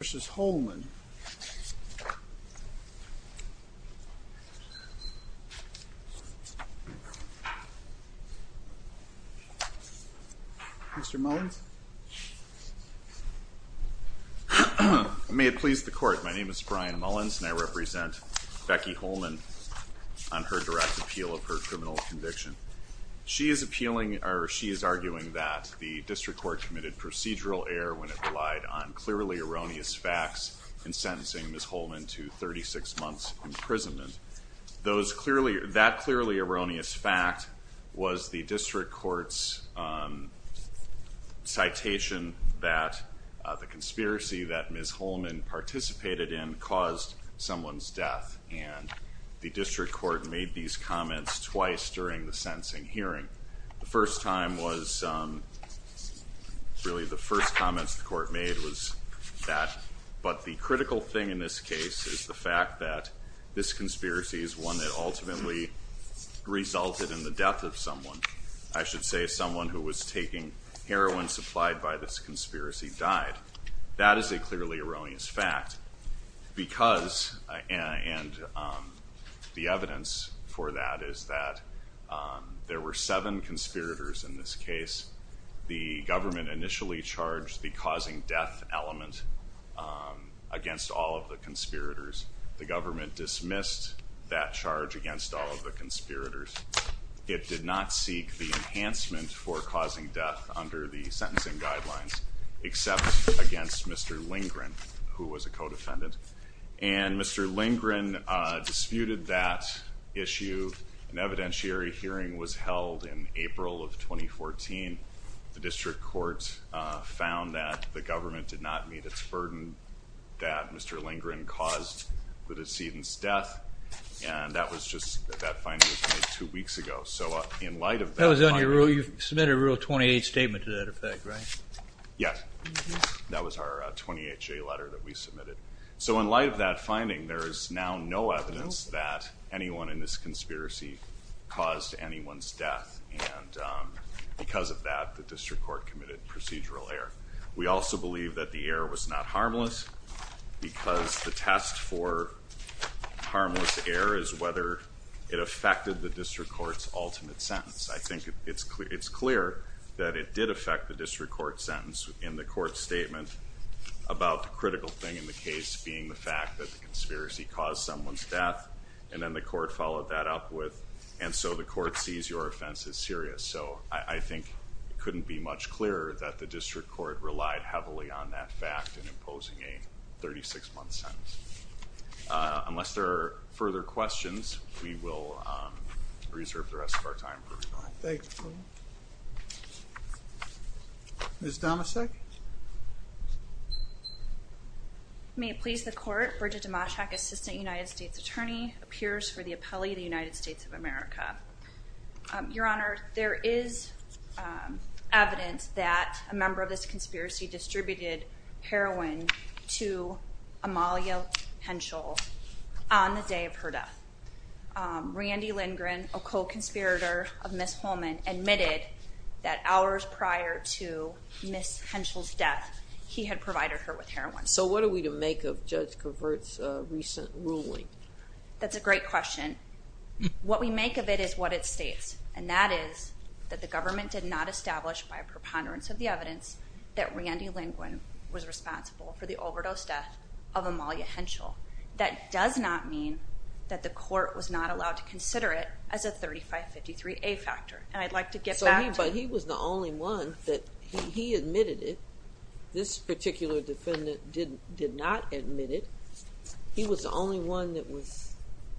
vs. Holman. Mr. Mullins? May it please the court, my name is Brian Mullins and I represent Becky Holman on her direct appeal of her criminal conviction. She is appealing or she is arguing that the district court committed procedural error when it relied on clearly erroneous facts in sentencing Ms. Holman to 36 months imprisonment. That clearly erroneous fact was the district court's citation that the conspiracy that Ms. Holman participated in caused someone's death and the district court made these comments twice during the sentencing hearing. The first time was really the first comments the court made was that but the critical thing in this case is the fact that this conspiracy is one that ultimately resulted in the death of someone. I should say someone who was taking heroin supplied by this conspiracy died. That is a clearly erroneous fact because and the evidence for that is that there were seven conspirators in this case. The government initially charged the causing death element against all of the conspirators. The government dismissed that charge against all of the conspirators. It did not seek the enhancement for causing death under the sentencing guidelines except against Mr. Lingren who was a co-defendant and Mr. Lingren disputed that issue. An evidentiary hearing was held in April of 2014. The district court found that the government did not meet its burden that Mr. Lingren caused the decedent's death and that was just that finding was made two weeks ago so in light of that. That was on your rule, you letter that we submitted. So in light of that finding there is now no evidence that anyone in this conspiracy caused anyone's death and because of that the district court committed procedural error. We also believe that the error was not harmless because the test for harmless error is whether it affected the district courts ultimate sentence. I think it's clear it's clear that it did about the critical thing in the case being the fact that the conspiracy caused someone's death and then the court followed that up with and so the court sees your offense as serious. So I think it couldn't be much clearer that the district court relied heavily on that fact in imposing a 36-month sentence. Unless there are further questions we will reserve the rest of our time for May it please the court. Bridget Dimashak, Assistant United States Attorney, appears for the appellee the United States of America. Your Honor, there is evidence that a member of this conspiracy distributed heroin to Amalia Henschel on the day of her death. Randy Lingren, a co-conspirator of Miss Holman, admitted that hours prior to Miss Henschel's death he had provided her with heroin. So what are we to make of Judge Covert's recent ruling? That's a great question. What we make of it is what it states and that is that the government did not establish by a preponderance of the evidence that Randy Lingren was responsible for the overdose death of Amalia Henschel. That does not mean that the court was not allowed to consider it as a 3553A factor and I'd like to get back to... But he was the only one that he admitted it. This particular defendant did not admit it. He was the only one that was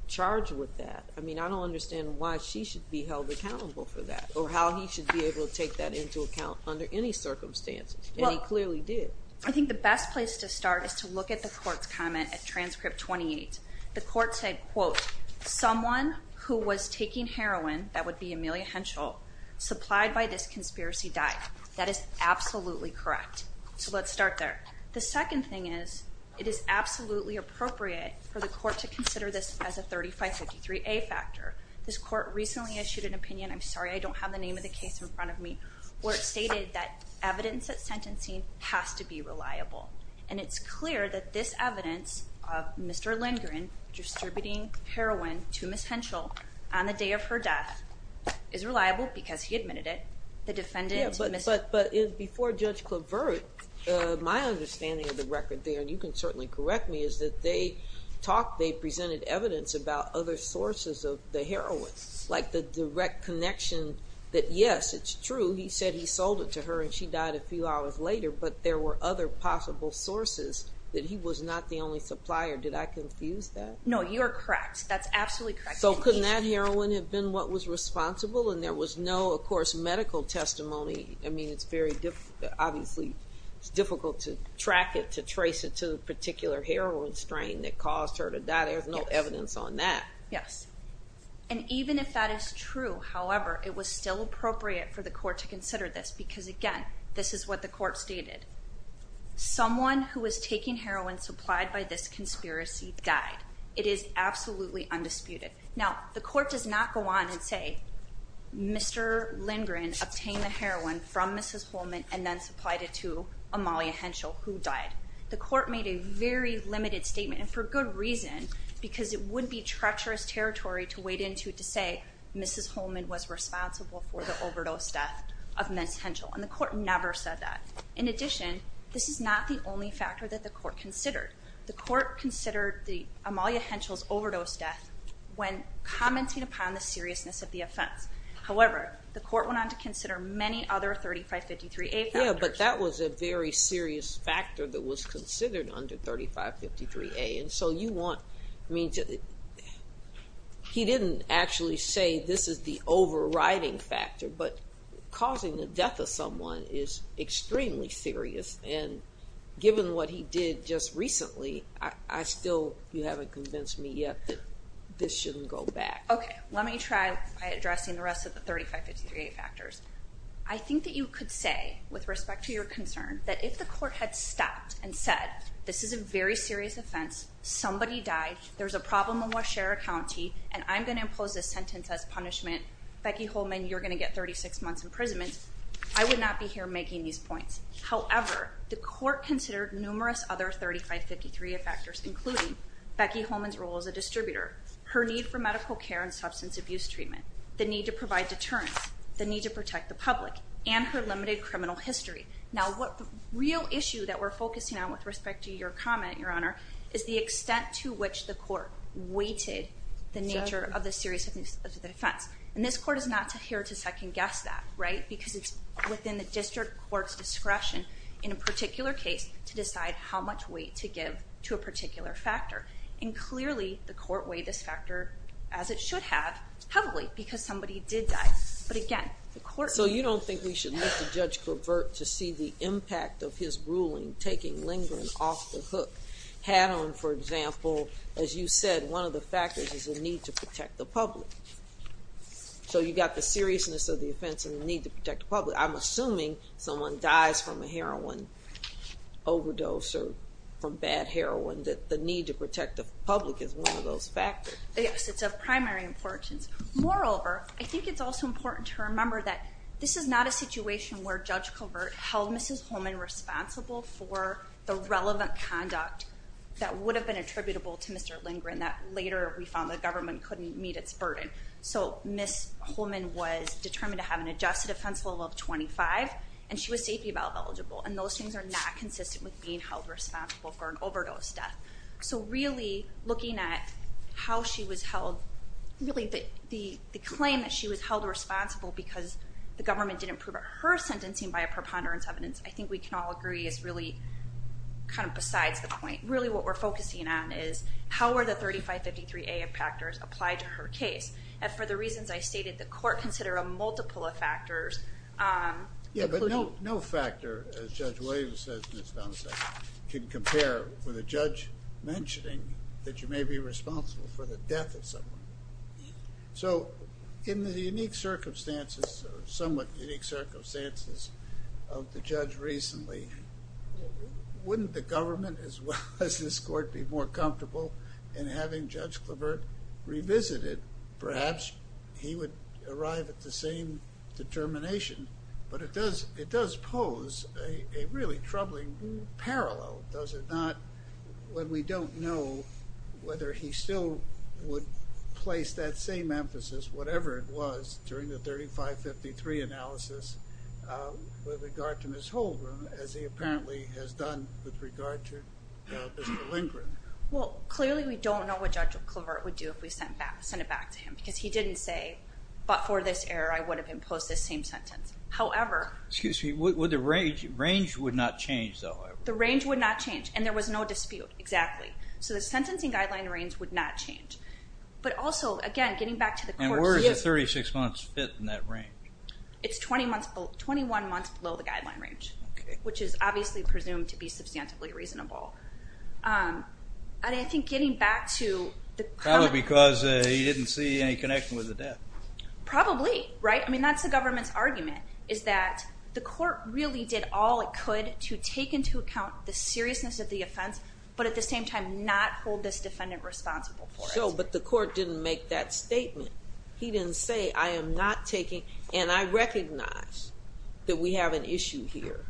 charged with that. I mean I don't understand why she should be held accountable for that or how he should be able to take that into account under any circumstances. He clearly did. I think the best place to start is to look at the court's comment at transcript 28. The court said quote, someone who was taking heroin that would be Amalia Henschel supplied by this conspiracy died. That is absolutely correct. So let's start there. The second thing is it is absolutely appropriate for the court to consider this as a 3553A factor. This court recently issued an opinion, I'm sorry I don't have the name of the case in front of me, where it stated that evidence at sentencing has to be reliable and it's clear that this evidence of Mr. Lingren distributing heroin to Ms. Henschel on the day of her death is reliable because he admitted it. The defendant... But before Judge Clavert, my understanding of the record there, and you can certainly correct me, is that they talked, they presented evidence about other sources of the heroin. Like the direct connection that yes, it's true, he said he sold it to her and she died a few hours later, but there were other possible sources that he was not the only supplier. Did I confuse that? No, you're correct. That's absolutely correct. So couldn't that heroin have been what was responsible and there was no, of course, medical testimony. I mean it's very difficult, obviously it's difficult to track it, to trace it to the particular heroin strain that caused her to die. There's no evidence on that. Yes, and even if that is true, however, it was still appropriate for the court to consider this because again, this is what the court stated. Someone who was taking heroin supplied by this conspiracy died. It is absolutely undisputed. Now, the court does not go on and say Mr. Lindgren obtained the heroin from Mrs. Holman and then supplied it to Amalia Henschel, who died. The court made a very limited statement and for good reason because it would be treacherous territory to wade into to say Mrs. Holman was responsible for the overdose death of Ms. Henschel and the court never said that. In addition, this is not the only factor that the court considered. The court considered Amalia Henschel's overdose death when commenting upon the seriousness of the offense. However, the court went on to consider many other 3553A factors. Yeah, but that was a very serious factor that was considered under 3553A and so you want, I mean, he didn't actually say this is the overriding factor, but causing the death of someone is extremely serious and given what he did just recently, I still, you haven't convinced me yet that this shouldn't go back. Okay, let me try by addressing the rest of the 3553A factors. I think that you could say, with respect to your concern, that if the court had stopped and said this is a very serious offense, somebody died, there's a problem in Washera County and I'm going to impose this sentence as punishment. Becky Holman, you're going to get 36 months imprisonment. I would not be here making these points. However, the court considered numerous other 3553A factors, including Becky Holman's role as a distributor, her need for medical care and substance abuse treatment, the need to provide deterrence, the need to protect the public, and her limited criminal history. Now, what the real issue that we're focusing on with respect to your comment, your honor, is the extent to which the court weighted the nature of the seriousness of the offense. And this court is not here to second-guess that, right? Because it's within the district court's discretion, in a particular case, to decide how much weight to give to a particular factor. And clearly, the court weighed this factor, as it should have, heavily because somebody did die. But again, the court... So you don't think we should let the judge convert to see the impact of his ruling taking lingering off the hook? Had on, for example, as you said, one of the factors is a need to protect the public. So you got the seriousness of the offense and the need to protect the public. I'm assuming someone dies from a heroin overdose, or from bad heroin, that the need to protect the public is one of those factors. Yes, it's of primary importance. Moreover, I think it's also important to remember that this is not a situation where Judge Covert held Mrs. Holman responsible for the relevant conduct that would have been attributable to Mr. Lindgren, that later we found the government couldn't meet its burden. So Mrs. Holman was determined to have an adjusted offense level of 25, and she was safety valve eligible. And those things are not consistent with being held responsible for an overdose death. So really, looking at how she was held... Really, the claim that she was held responsible because the government didn't prove her sentencing by a preponderance evidence, I think we can all agree is really kind of besides the point. Really, what we're her case. And for the reasons I stated, the court consider a multiple of factors. Yeah, but no factor, as Judge Williams says in his domicile, can compare with a judge mentioning that you may be responsible for the death of someone. So in the unique circumstances, somewhat unique circumstances, of the judge recently, wouldn't the government as well as this be more comfortable in having Judge Clavert revisit it? Perhaps he would arrive at the same determination, but it does it does pose a really troubling parallel, does it not, when we don't know whether he still would place that same emphasis, whatever it was, during the 3553 analysis with regard to Ms. Holman, as he apparently has done with regard to Mr. Lindgren. Well, clearly we don't know what Judge Clavert would do if we sent it back to him, because he didn't say, but for this error, I would have imposed this same sentence. However... Excuse me, would the range would not change, though? The range would not change, and there was no dispute, exactly. So the sentencing guideline range would not change. But also, again, getting back to the court... And where does the 36 months fit in that range? It's 21 months below the guideline range, which is obviously presumed to be substantively reasonable. And I think getting back to... Probably because he didn't see any connection with the death. Probably, right? I mean, that's the government's argument, is that the court really did all it could to take into account the seriousness of the offense, but at the same time not hold this defendant responsible for it. So, but the court didn't make that statement. He didn't say, I am not taking... And I recognize that we have an issue here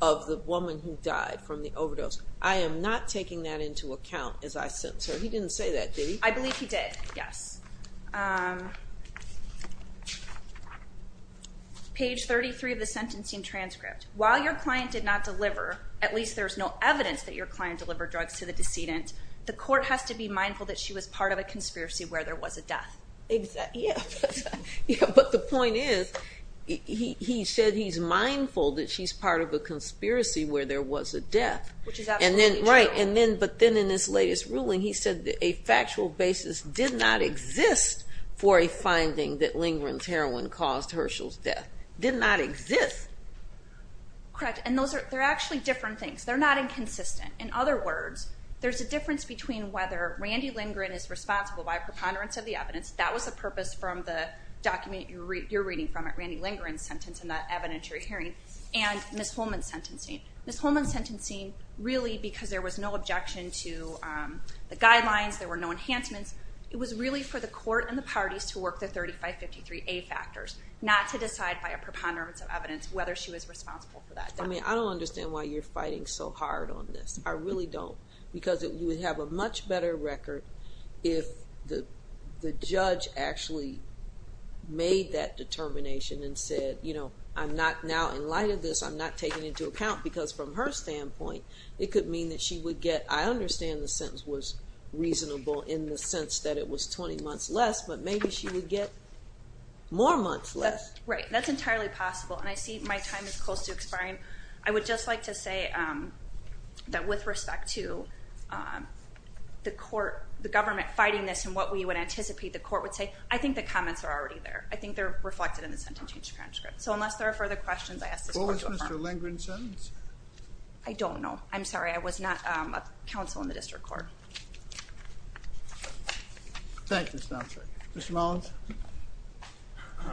of the woman who died from the overdose. I am not taking that into account as I sentence her. He didn't say that, did he? I believe he did, yes. Page 33 of the sentencing transcript. While your client did not deliver, at least there's no evidence that your client delivered drugs to the decedent, the conspiracy where there was a death. But the point is, he said he's mindful that she's part of a conspiracy where there was a death. Which is absolutely true. Right, but then in his latest ruling he said that a factual basis did not exist for a finding that Lindgren's heroin caused Herschel's death. Did not exist. Correct, and those are actually different things. They're not inconsistent. In other words, there's a evidence. That was the purpose from the document you're reading from it, Randy Lindgren's sentence in that evidentiary hearing, and Ms. Holman's sentencing. Ms. Holman's sentencing, really because there was no objection to the guidelines, there were no enhancements, it was really for the court and the parties to work the 3553A factors, not to decide by a preponderance of evidence whether she was responsible for that death. I mean, I don't understand why you're fighting so hard on this. I really don't. Because you would have a much better record if the judge actually made that determination and said, you know, I'm not now in light of this, I'm not taking into account. Because from her standpoint, it could mean that she would get, I understand the sentence was reasonable in the sense that it was 20 months less, but maybe she would get more months less. Right, that's entirely possible. And I see my time is close to expiring. I would just like to say that with respect to the court, the government fighting this and what we would anticipate the court would say, I think the comments are already there. I think they're reflected in the sentencing transcript. So unless there are further questions, I ask this court to affirm. What was Mr. Lindgren's sentence? I don't know. I'm sorry, I was not a district court. Thank you, Spencer. Mr. Mullins? I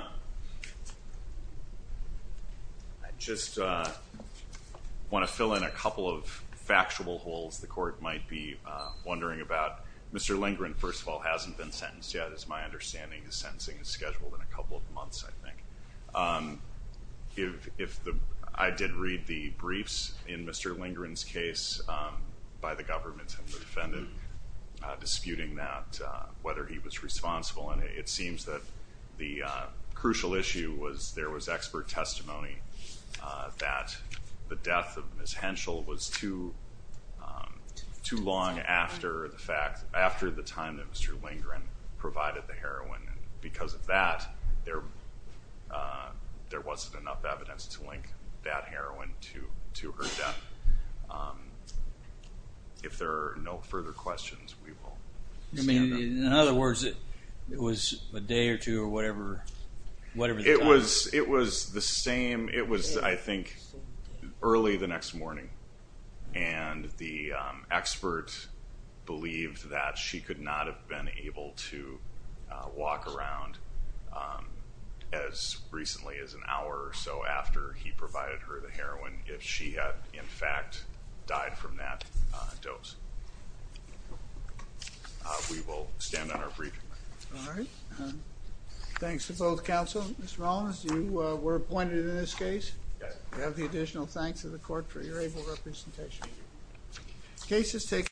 just want to fill in a couple of factual holes the court might be wondering about. Mr. Lindgren, first of all, hasn't been sentenced yet is my understanding. His sentencing is scheduled in a couple of months, I think. If I did read the briefs in Mr. Lindgren's case by the government and the defendant disputing that, whether he was responsible. And it seems that the crucial issue was there was expert testimony that the death of Ms. Henschel was too long after the fact, after the time that Mr. Lindgren provided the heroin. Because of that, there wasn't enough evidence to link that heroin to her death. If there are no further questions, we will stand adjourned. I mean, in other words, it was a day or two or whatever, whatever the time. It was the same, it was I think early the next morning. And the expert believed that she could not have been able to walk around as recently as an hour or so after he provided her the heroin if she had, in fact, died from that dose. We will stand on our brief. All right, thanks to both counsel. Mr. Rollins, you were appointed in this case. We have the additional thanks of the court for your able representation.